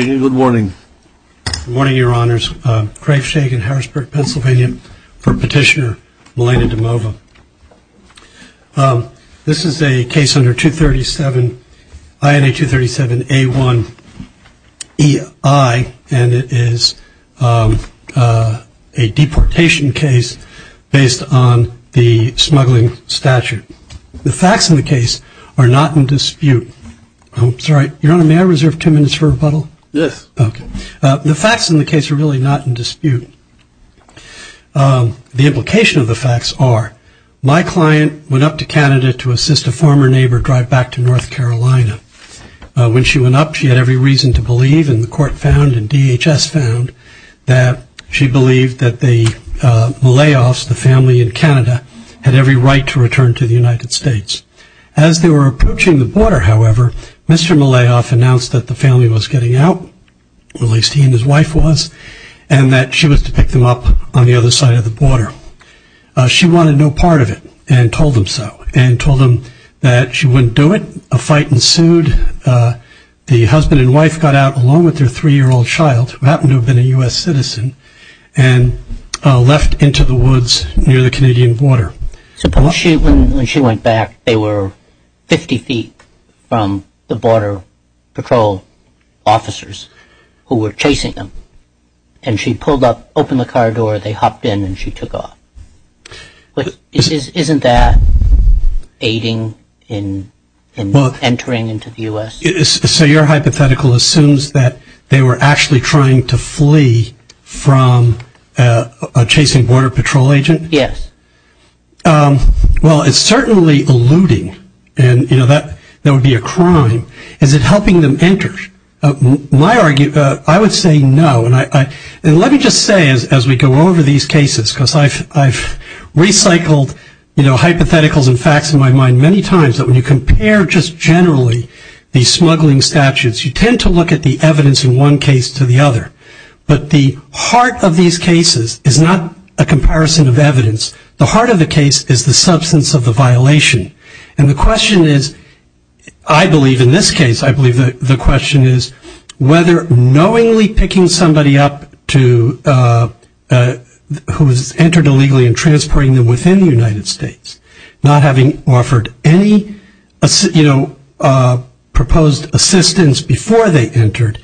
Good morning, Your Honors. Craig Shagan, Harrisburg, Pennsylvania for Petitioner, Melina Dimova. This is a case under 237, INA 237A1EI, and it is a deportation case based on the smuggling statute. The facts in the case are not in dispute. Sorry, Your Honor, may I reserve ten minutes for rebuttal? Yes. The facts in the case are really not in dispute. The implication of the facts are, my client went up to Canada to assist a former neighbor drive back to North Carolina. When she went up, she had every reason to believe, and the court found and DHS found, that she believed that the Malayoffs, the family in Canada, had every right to return to the United States. As they were approaching the border, however, Mr. Malayoff announced that the family was getting out, at least he and his wife was, and that she was to pick them up on the other side of the border. She wanted no part of it, and told him so, and told him that she wouldn't do it. A fight ensued. The husband and wife got out, along with their three-year-old child, who happened to have been a U.S. citizen, and left into the woods near the Canadian border. Suppose when she went back, they were 50 feet from the border patrol officers who were chasing them, and she pulled up, opened the car door, they hopped in, and she took off. Isn't that aiding in entering into the U.S.? So your hypothetical assumes that they were actually trying to flee from a chasing border patrol agent? Yes. Well, it's certainly eluding, and that would be a crime. Is it helping them enter? I would say no, and let me just say as we go over these cases, because I've recycled hypotheticals and facts in my mind many times, that when you compare just generally these smuggling statutes, you tend to look at the evidence in one case to the other. But the heart of these cases is not a comparison of evidence. The heart of the case is the substance of the violation. And the question is, I believe in this case, I believe the question is, whether knowingly picking somebody up who has entered illegally and transporting them within the United States, not having offered any, you know, proposed assistance before they entered,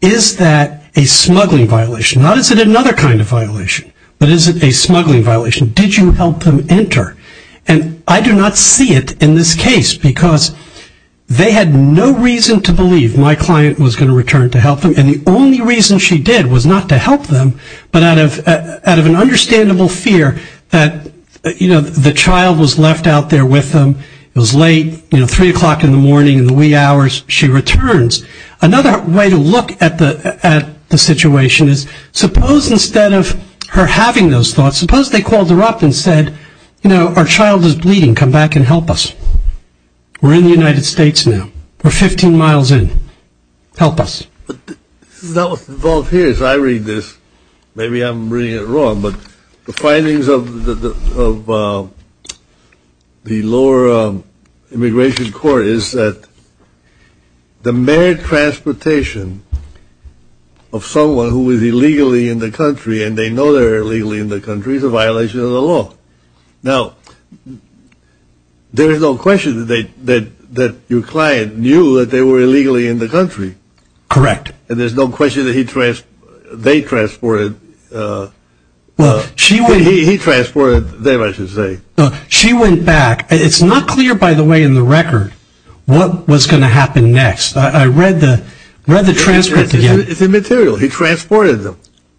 is that a smuggling violation? Not is it another kind of violation, but is it a smuggling violation? Did you help them enter? And I do not see it in this case, because they had no reason to believe my client was going to return to help them, and the only reason she did was not to help them, but out of an understandable fear that, you know, the child was left out there with them, it was late, you know, 3 o'clock in the morning in the wee hours, she returns. Another way to look at the situation is, suppose instead of her having those thoughts, suppose they called her up and said, you know, our child is bleeding, come back and help us. We're in the United States now. We're 15 miles in. Help us. This is not what's involved here. As I read this, maybe I'm reading it wrong, but the findings of the lower immigration court is that the mere transportation of someone who is illegally in the country and they know they're illegally in the country is a violation of the law. Now, there is no question that your client knew that they were illegally in the country. Correct. And there's no question that they transported. He transported them, I should say. She went back. It's not clear, by the way, in the record what was going to happen next. I read the transcript again. It's immaterial. He transported them.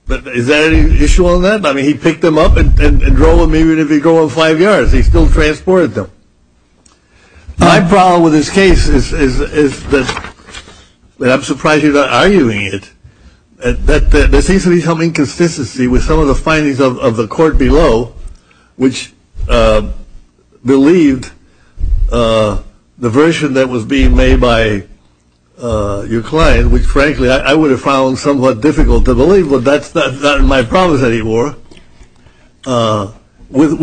Is there any issue on that? I mean, he picked them up and drove them even if he drove them five yards. He still transported them. My problem with this case is that I'm surprised you're not arguing it. There seems to be some inconsistency with some of the findings of the court below, which believed the version that was being made by your client, which, frankly, I would have found somewhat difficult to believe, but that's not my problem anymore because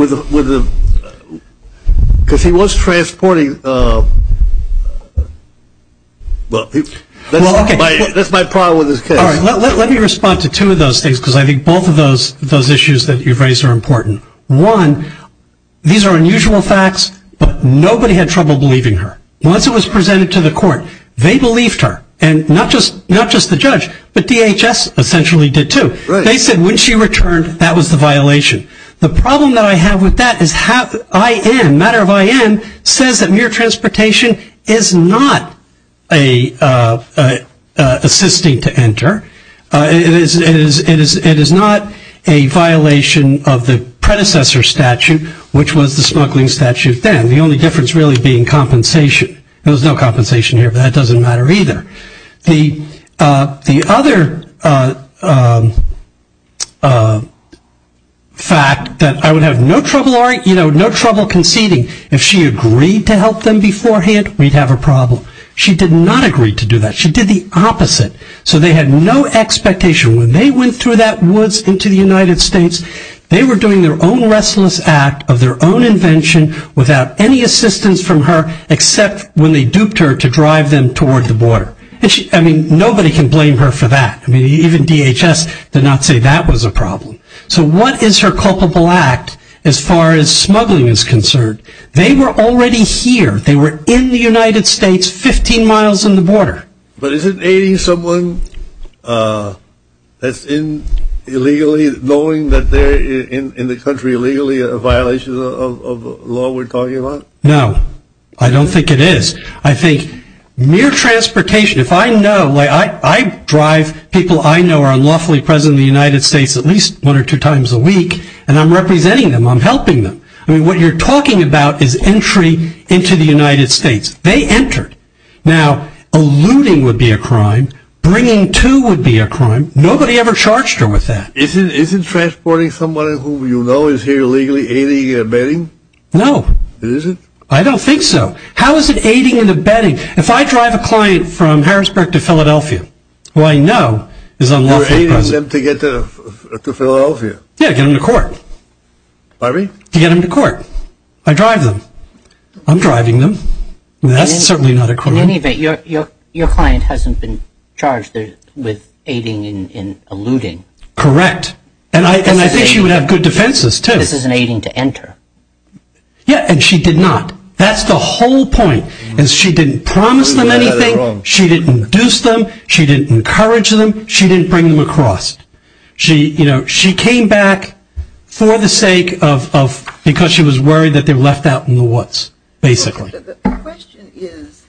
he was transporting. That's my problem with this case. Let me respond to two of those things because I think both of those issues that you've raised are important. One, these are unusual facts, but nobody had trouble believing her. Once it was presented to the court, they believed her, and not just the judge, but DHS essentially did too. They said when she returned, that was the violation. The problem that I have with that is IM, matter of IM, says that mere transportation is not assisting to enter. It is not a violation of the predecessor statute, which was the smuggling statute then. The only difference really being compensation. There was no compensation here, but that doesn't matter either. The other fact that I would have no trouble conceding, if she agreed to help them beforehand, we'd have a problem. She did not agree to do that. She did the opposite, so they had no expectation. When they went through that woods into the United States, they were doing their own restless act of their own invention without any assistance from her, except when they duped her to drive them toward the border. Nobody can blame her for that. Even DHS did not say that was a problem. So what is her culpable act as far as smuggling is concerned? They were already here. They were in the United States 15 miles from the border. But isn't aiding someone that's illegally, knowing that they're in the country illegally a violation of the law we're talking about? No, I don't think it is. I think mere transportation, if I know, I drive people I know are unlawfully present in the United States at least one or two times a week, and I'm representing them, I'm helping them. I mean, what you're talking about is entry into the United States. They entered. Now, eluding would be a crime, bringing to would be a crime. Nobody ever charged her with that. Isn't transporting someone who you know is here illegally aiding and abetting? No. It isn't? I don't think so. How is it aiding and abetting? If I drive a client from Harrisburg to Philadelphia, who I know is unlawfully present. You're aiding them to get to Philadelphia? Yeah, get them to court. Pardon me? To get them to court. I drive them. I'm driving them. That's certainly not a crime. In any event, your client hasn't been charged with aiding and eluding. Correct. And I think she would have good defenses, too. This is an aiding to enter. Yeah, and she did not. That's the whole point. She didn't promise them anything. She didn't induce them. She didn't encourage them. She didn't bring them across. She came back for the sake of because she was worried that they were left out in the woods, basically. The question is,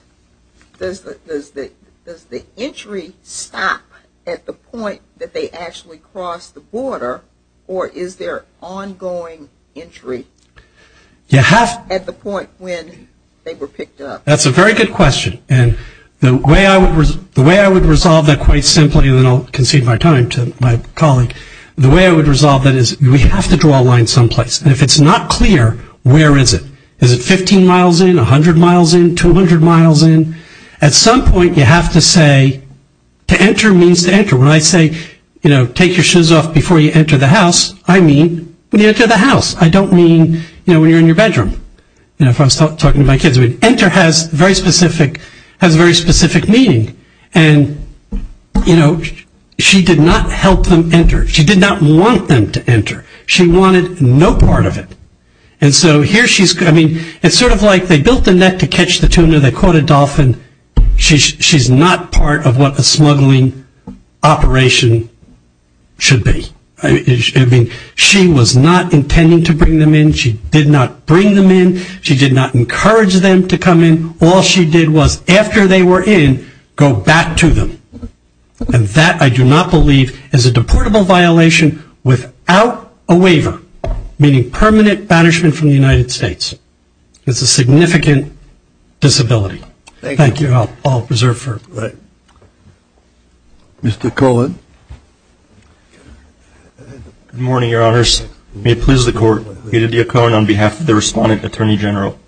does the entry stop at the point that they actually cross the border, or is there ongoing entry at the point when they were picked up? That's a very good question. And the way I would resolve that quite simply, and then I'll concede my time to my colleague, the way I would resolve that is we have to draw a line someplace. And if it's not clear, where is it? Is it 15 miles in, 100 miles in, 200 miles in? At some point, you have to say to enter means to enter. When I say, you know, take your shoes off before you enter the house, I mean when you enter the house. I don't mean, you know, when you're in your bedroom. You know, if I was talking to my kids, enter has very specific meaning. And, you know, she did not help them enter. She did not want them to enter. She wanted no part of it. And so here she's, I mean, it's sort of like they built the net to catch the tuna. They caught a dolphin. She's not part of what a smuggling operation should be. I mean, she was not intending to bring them in. She did not bring them in. She did not encourage them to come in. All she did was after they were in, go back to them. And that, I do not believe, is a deportable violation without a waiver, meaning permanent banishment from the United States. It's a significant disability. Thank you. I'll reserve for a moment. Mr. Cohen. Good morning, Your Honors. May it please the Court, Edith D. Cohen on behalf of the Respondent Attorney General.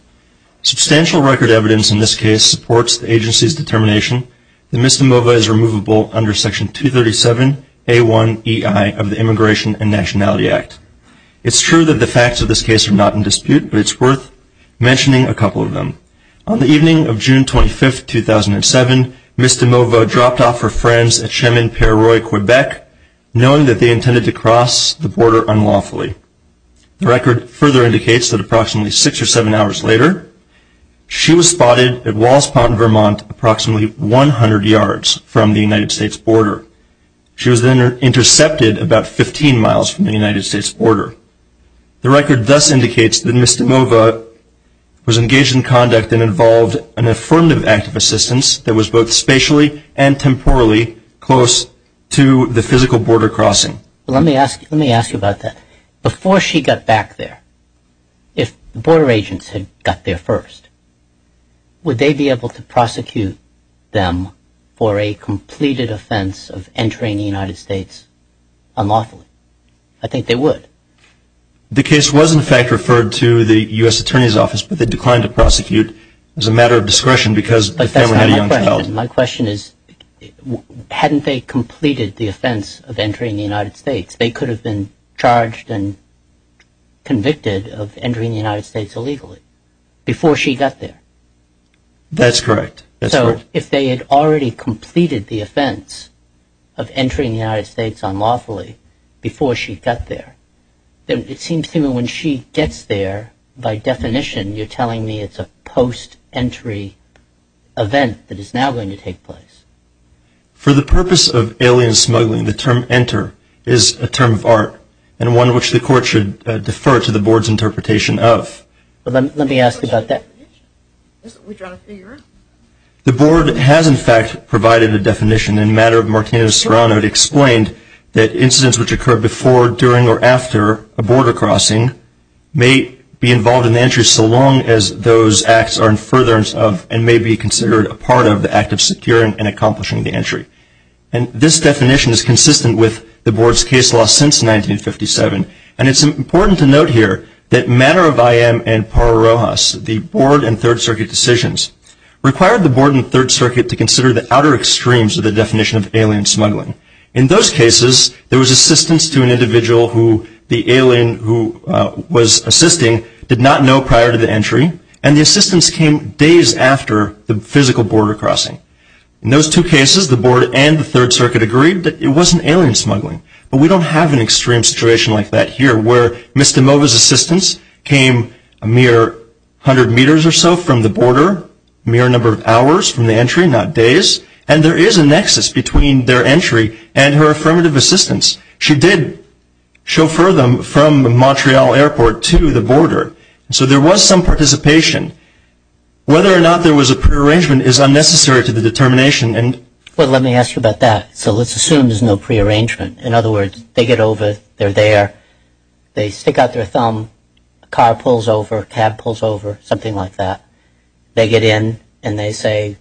Substantial record evidence in this case supports the agency's determination that Ms. DeMova is removable under Section 237A1EI of the Immigration and Nationality Act. It's true that the facts of this case are not in dispute, but it's worth mentioning a couple of them. On the evening of June 25, 2007, Ms. DeMova dropped off her friends at Chemin-Pérur, Quebec, knowing that they intended to cross the border unlawfully. The record further indicates that approximately six or seven hours later, she was spotted at Wallace Pond, Vermont, approximately 100 yards from the United States border. She was then intercepted about 15 miles from the United States border. The record thus indicates that Ms. DeMova was engaged in conduct that involved an affirmative act of assistance that was both spatially and temporally close to the physical border crossing. Let me ask you about that. If the border agents had got there first, would they be able to prosecute them for a completed offense of entering the United States unlawfully? I think they would. The case was, in fact, referred to the U.S. Attorney's Office, but they declined to prosecute as a matter of discretion because the family had a young child. But that's not my question. My question is, hadn't they completed the offense of entering the United States? They could have been charged and convicted of entering the United States illegally before she got there. That's correct. So if they had already completed the offense of entering the United States unlawfully before she got there, then it seems to me when she gets there, by definition, you're telling me it's a post-entry event that is now going to take place. For the purpose of alien smuggling, the term enter is a term of art and one which the Court should defer to the Board's interpretation of. Let me ask about that. The Board has, in fact, provided a definition. In a matter of Martina Serrano, it explained that incidents which occur before, during, or after a border crossing may be involved in the entry so long as those acts are in furtherance of and may be considered a part of the act of securing and accomplishing the entry. And this definition is consistent with the Board's case law since 1957. And it's important to note here that Manner of I.M. and Parra-Rojas, the Board and Third Circuit decisions, required the Board and Third Circuit to consider the outer extremes of the definition of alien smuggling. In those cases, there was assistance to an individual who the alien who was assisting did not know prior to the entry. And the assistance came days after the physical border crossing. In those two cases, the Board and the Third Circuit agreed that it wasn't alien smuggling. But we don't have an extreme situation like that here where Mr. Mova's assistance came a mere hundred meters or so from the border, a mere number of hours from the entry, not days. And there is a nexus between their entry and her affirmative assistance. So there was some participation. Whether or not there was a prearrangement is unnecessary to the determination. Well, let me ask you about that. So let's assume there's no prearrangement. In other words, they get over, they're there, they stick out their thumb, a car pulls over, a cab pulls over, something like that. They get in and they say,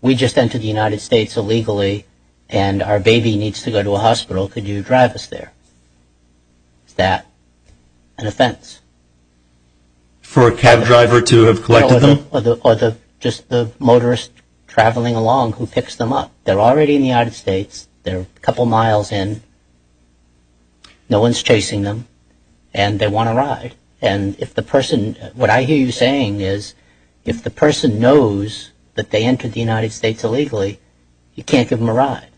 we just entered the United States illegally and our baby needs to go to a hospital, could you drive us there? Is that an offense? For a cab driver to have collected them? Or just the motorist traveling along who picks them up. They're already in the United States. They're a couple miles in. No one's chasing them. And they want a ride. And if the person, what I hear you saying is if the person knows that they entered the United States illegally, you can't give them a ride.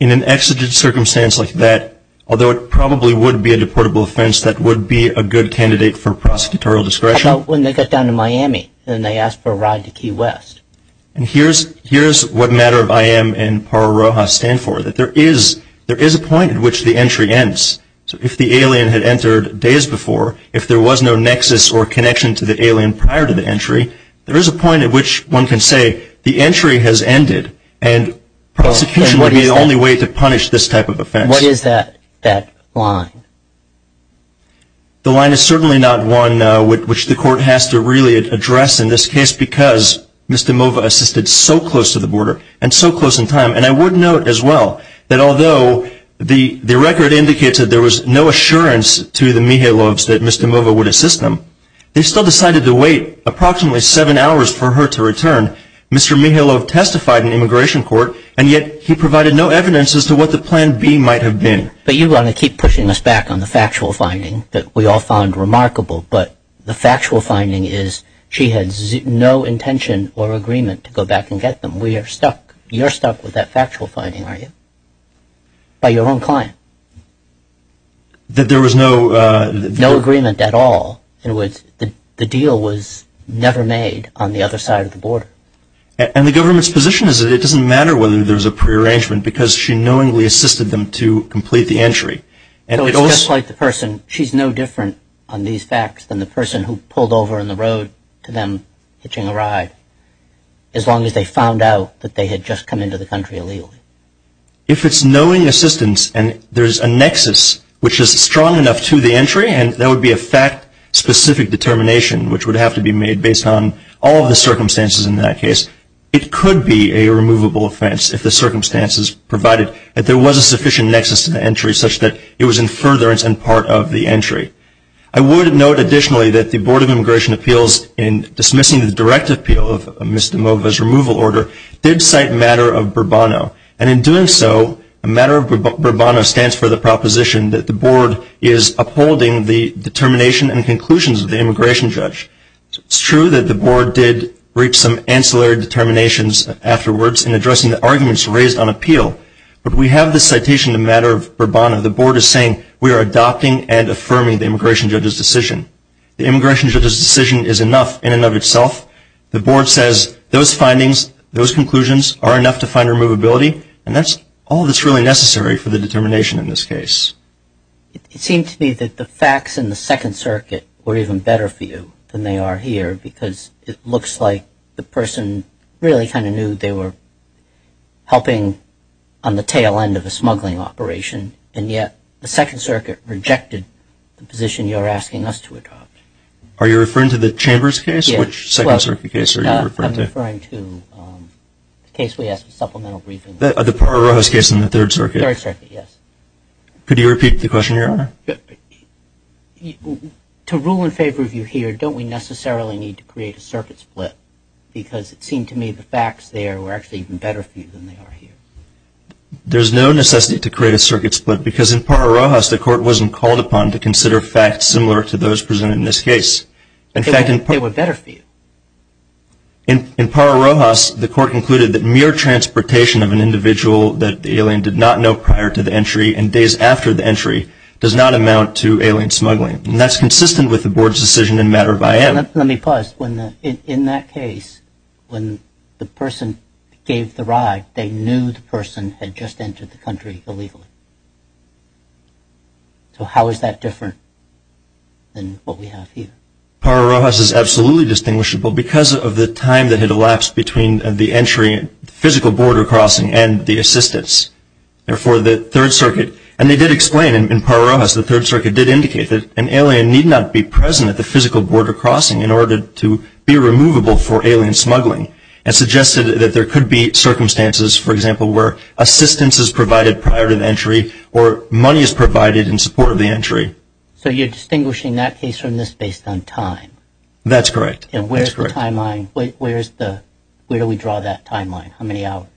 In an exigent circumstance like that, although it probably would be a deportable offense, that would be a good candidate for prosecutorial discretion. When they got down to Miami and they asked for a ride to Key West. And here's what matter of IM and Paro Rojas stand for, that there is a point at which the entry ends. So if the alien had entered days before, if there was no nexus or connection to the alien prior to the entry, there is a point at which one can say, the entry has ended and prosecution would be the only way to punish this type of offense. What is that line? The line is certainly not one which the court has to really address in this case because Mr. Mova assisted so close to the border and so close in time. And I would note as well that although the record indicates that there was no assurance to the Mihaylovs that Mr. Mova would assist them, they still decided to wait approximately seven hours for her to return. Mr. Mihaylov testified in immigration court and yet he provided no evidence as to what the plan B might have been. But you want to keep pushing us back on the factual finding that we all found remarkable, but the factual finding is she had no intention or agreement to go back and get them. We are stuck. You're stuck with that factual finding, are you? By your own client? That there was no... In other words, the deal was never made on the other side of the border. And the government's position is that it doesn't matter whether there was a prearrangement because she knowingly assisted them to complete the entry. So it's just like the person, she's no different on these facts than the person who pulled over in the road to them hitching a ride, as long as they found out that they had just come into the country illegally. If it's knowing assistance and there's a nexus which is strong enough to the entry and there would be a fact-specific determination which would have to be made based on all of the circumstances in that case, it could be a removable offense if the circumstances provided that there was a sufficient nexus to the entry such that it was in furtherance and part of the entry. I would note additionally that the Board of Immigration Appeals, in dismissing the direct appeal of Ms. DeMova's removal order, did cite matter of Burbano. And in doing so, a matter of Burbano stands for the proposition that the board is upholding the determination and conclusions of the immigration judge. It's true that the board did reach some ancillary determinations afterwards in addressing the arguments raised on appeal. But we have this citation in the matter of Burbano. The board is saying we are adopting and affirming the immigration judge's decision. The immigration judge's decision is enough in and of itself. The board says those findings, those conclusions are enough to find removability, and that's all that's really necessary for the determination in this case. It seemed to me that the facts in the Second Circuit were even better for you than they are here because it looks like the person really kind of knew they were helping on the tail end of a smuggling operation, and yet the Second Circuit rejected the position you're asking us to adopt. Are you referring to the Chambers case? Which Second Circuit case are you referring to? I'm referring to the case we asked for supplemental briefing. The Parra-Rojas case in the Third Circuit? Third Circuit, yes. Could you repeat the question, Your Honor? To rule in favor of you here, don't we necessarily need to create a circuit split because it seemed to me the facts there were actually even better for you than they are here? There's no necessity to create a circuit split because in Parra-Rojas, the court wasn't called upon to consider facts similar to those presented in this case. They were better for you. In Parra-Rojas, the court concluded that mere transportation of an individual that the alien did not know prior to the entry and days after the entry does not amount to alien smuggling, and that's consistent with the Board's decision in matter of IAM. Let me pause. In that case, when the person gave the ride, they knew the person had just entered the country illegally. So how is that different than what we have here? Parra-Rojas is absolutely distinguishable because of the time that had elapsed between the entry, physical border crossing, and the assistance. Therefore, the Third Circuit, and they did explain in Parra-Rojas, the Third Circuit did indicate that an alien need not be present at the physical border crossing in order to be removable for alien smuggling and suggested that there could be circumstances, for example, where assistance is provided prior to the entry or money is provided in support of the entry. So you're distinguishing that case from this based on time. That's correct. And where is the timeline? Where do we draw that timeline? How many hours?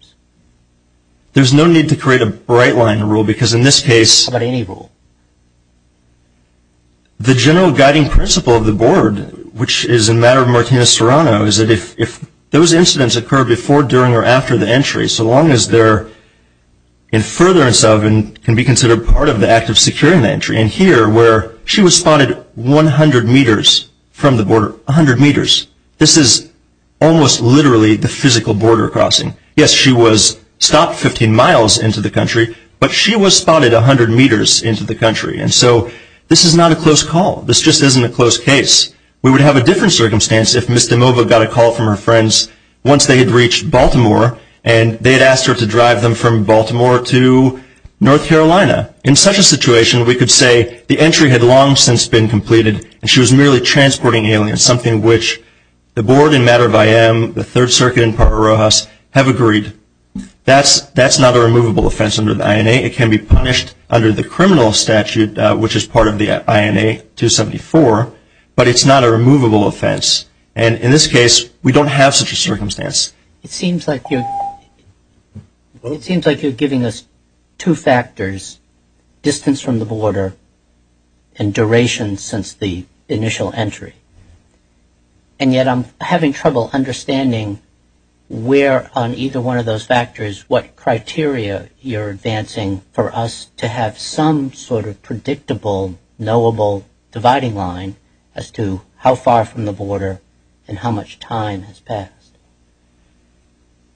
There's no need to create a bright line rule because in this case. How about any rule? The general guiding principle of the Board, which is in matter of Martinez-Serrano, is that if those incidents occur before, during, or after the entry, so long as they're in furtherance of and can be considered part of the act of securing the entry. And here, where she was spotted 100 meters from the border, 100 meters, this is almost literally the physical border crossing. Yes, she was stopped 15 miles into the country, but she was spotted 100 meters into the country. And so this is not a close call. This just isn't a close case. We would have a different circumstance if Ms. DeMova got a call from her friends once they had reached Baltimore, and they had asked her to drive them from Baltimore to North Carolina. In such a situation, we could say the entry had long since been completed and she was merely transporting aliens, something which the Board in matter of IM, the Third Circuit, and Parker Rojas have agreed. That's not a removable offense under the INA. It can be punished under the criminal statute, which is part of the INA 274, but it's not a removable offense. And in this case, we don't have such a circumstance. It seems like you're giving us two factors, distance from the border and duration since the initial entry. And yet I'm having trouble understanding where on either one of those factors what criteria you're advancing for us to have some sort of predictable, knowable dividing line as to how far from the border and how much time has passed.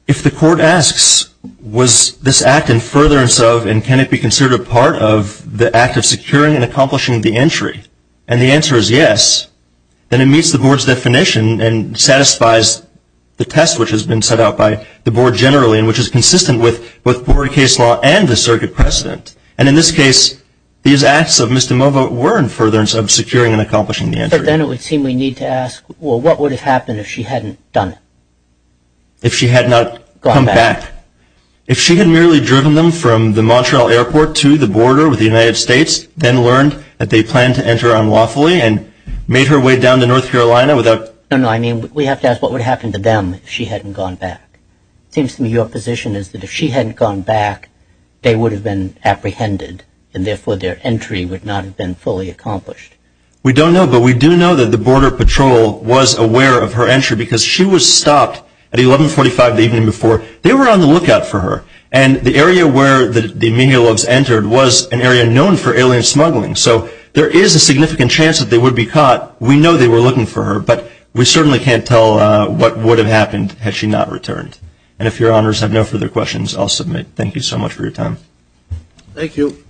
If the court asks, was this act in furtherance of and can it be considered a part of the act of securing and accomplishing the entry, and the answer is yes, then it meets the Board's definition and satisfies the test which has been set out by the Board generally and which is consistent with both border case law and the circuit precedent. And in this case, these acts of Ms. DeMovo were in furtherance of securing and accomplishing the entry. But then it would seem we need to ask, well, what would have happened if she hadn't done it? If she had not come back. If she had merely driven them from the Montreal airport to the border with the United States, then learned that they planned to enter unlawfully and made her way down to North Carolina without – No, no, I mean we have to ask what would have happened to them if she hadn't gone back. It seems to me your position is that if she hadn't gone back, they would have been apprehended and therefore their entry would not have been fully accomplished. We don't know, but we do know that the Border Patrol was aware of her entry because she was stopped at 1145 the evening before. They were on the lookout for her. And the area where the menial logs entered was an area known for alien smuggling. So there is a significant chance that they would be caught. We know they were looking for her, but we certainly can't tell what would have happened had she not returned. And if your honors have no further questions, I'll submit. Thank you so much for your time. Thank you.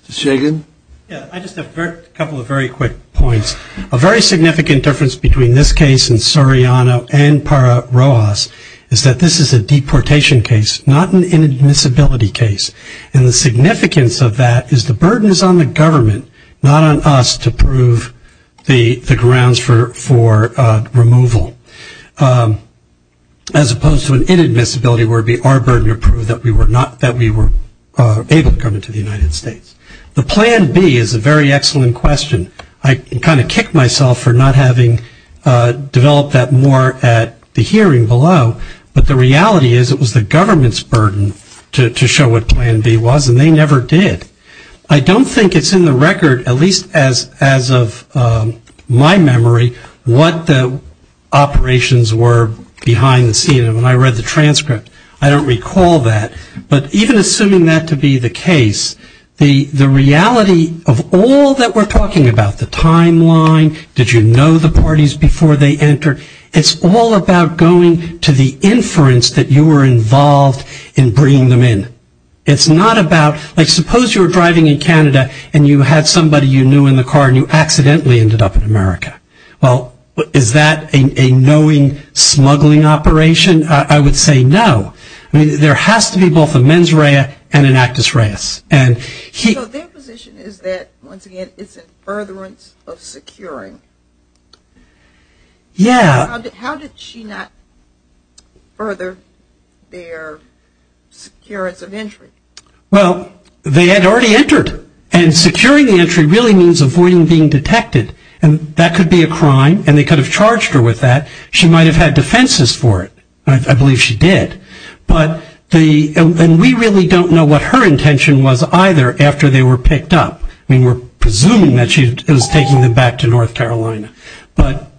Mr. Shagan. Yeah, I just have a couple of very quick points. A very significant difference between this case and Soriano and Para Rojas is that this is a deportation case, not an inadmissibility case. And the significance of that is the burden is on the government, not on us to prove the grounds for removal, as opposed to an inadmissibility where it would be our burden to prove that we were able to come into the United States. The plan B is a very excellent question. I kind of kicked myself for not having developed that more at the hearing below, but the reality is it was the government's burden to show what plan B was, and they never did. I don't think it's in the record, at least as of my memory, what the operations were behind the scene. When I read the transcript, I don't recall that. But even assuming that to be the case, the reality of all that we're talking about, the timeline, did you know the parties before they entered, it's all about going to the inference that you were involved in bringing them in. It's not about, like suppose you were driving in Canada and you had somebody you knew in the car and you accidentally ended up in America. Well, is that a knowing smuggling operation? I would say no. I mean, there has to be both a mens rea and an actus reus. So their position is that, once again, it's in furtherance of securing. Yeah. How did she not further their securance of entry? Well, they had already entered, and securing the entry really means avoiding being detected, and that could be a crime, and they could have charged her with that. She might have had defenses for it. I believe she did. And we really don't know what her intention was either after they were picked up. I mean, we're presuming that she was taking them back to North Carolina. But,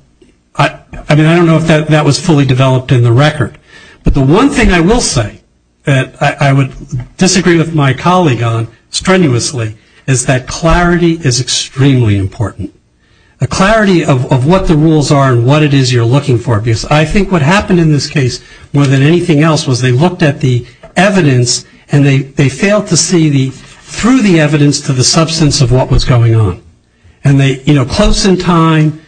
I mean, I don't know if that was fully developed in the record. But the one thing I will say that I would disagree with my colleague on strenuously is that clarity is extremely important, a clarity of what the rules are and what it is you're looking for. Because I think what happened in this case more than anything else was they looked at the evidence and they failed to see through the evidence to the substance of what was going on. And they, you know, close in time,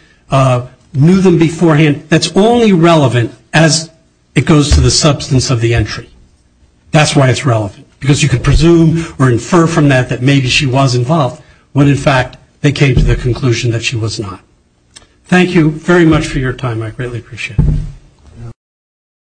knew them beforehand. That's only relevant as it goes to the substance of the entry. That's why it's relevant, because you could presume or infer from that that maybe she was involved when, in fact, they came to the conclusion that she was not. Thank you very much for your time. I greatly appreciate it.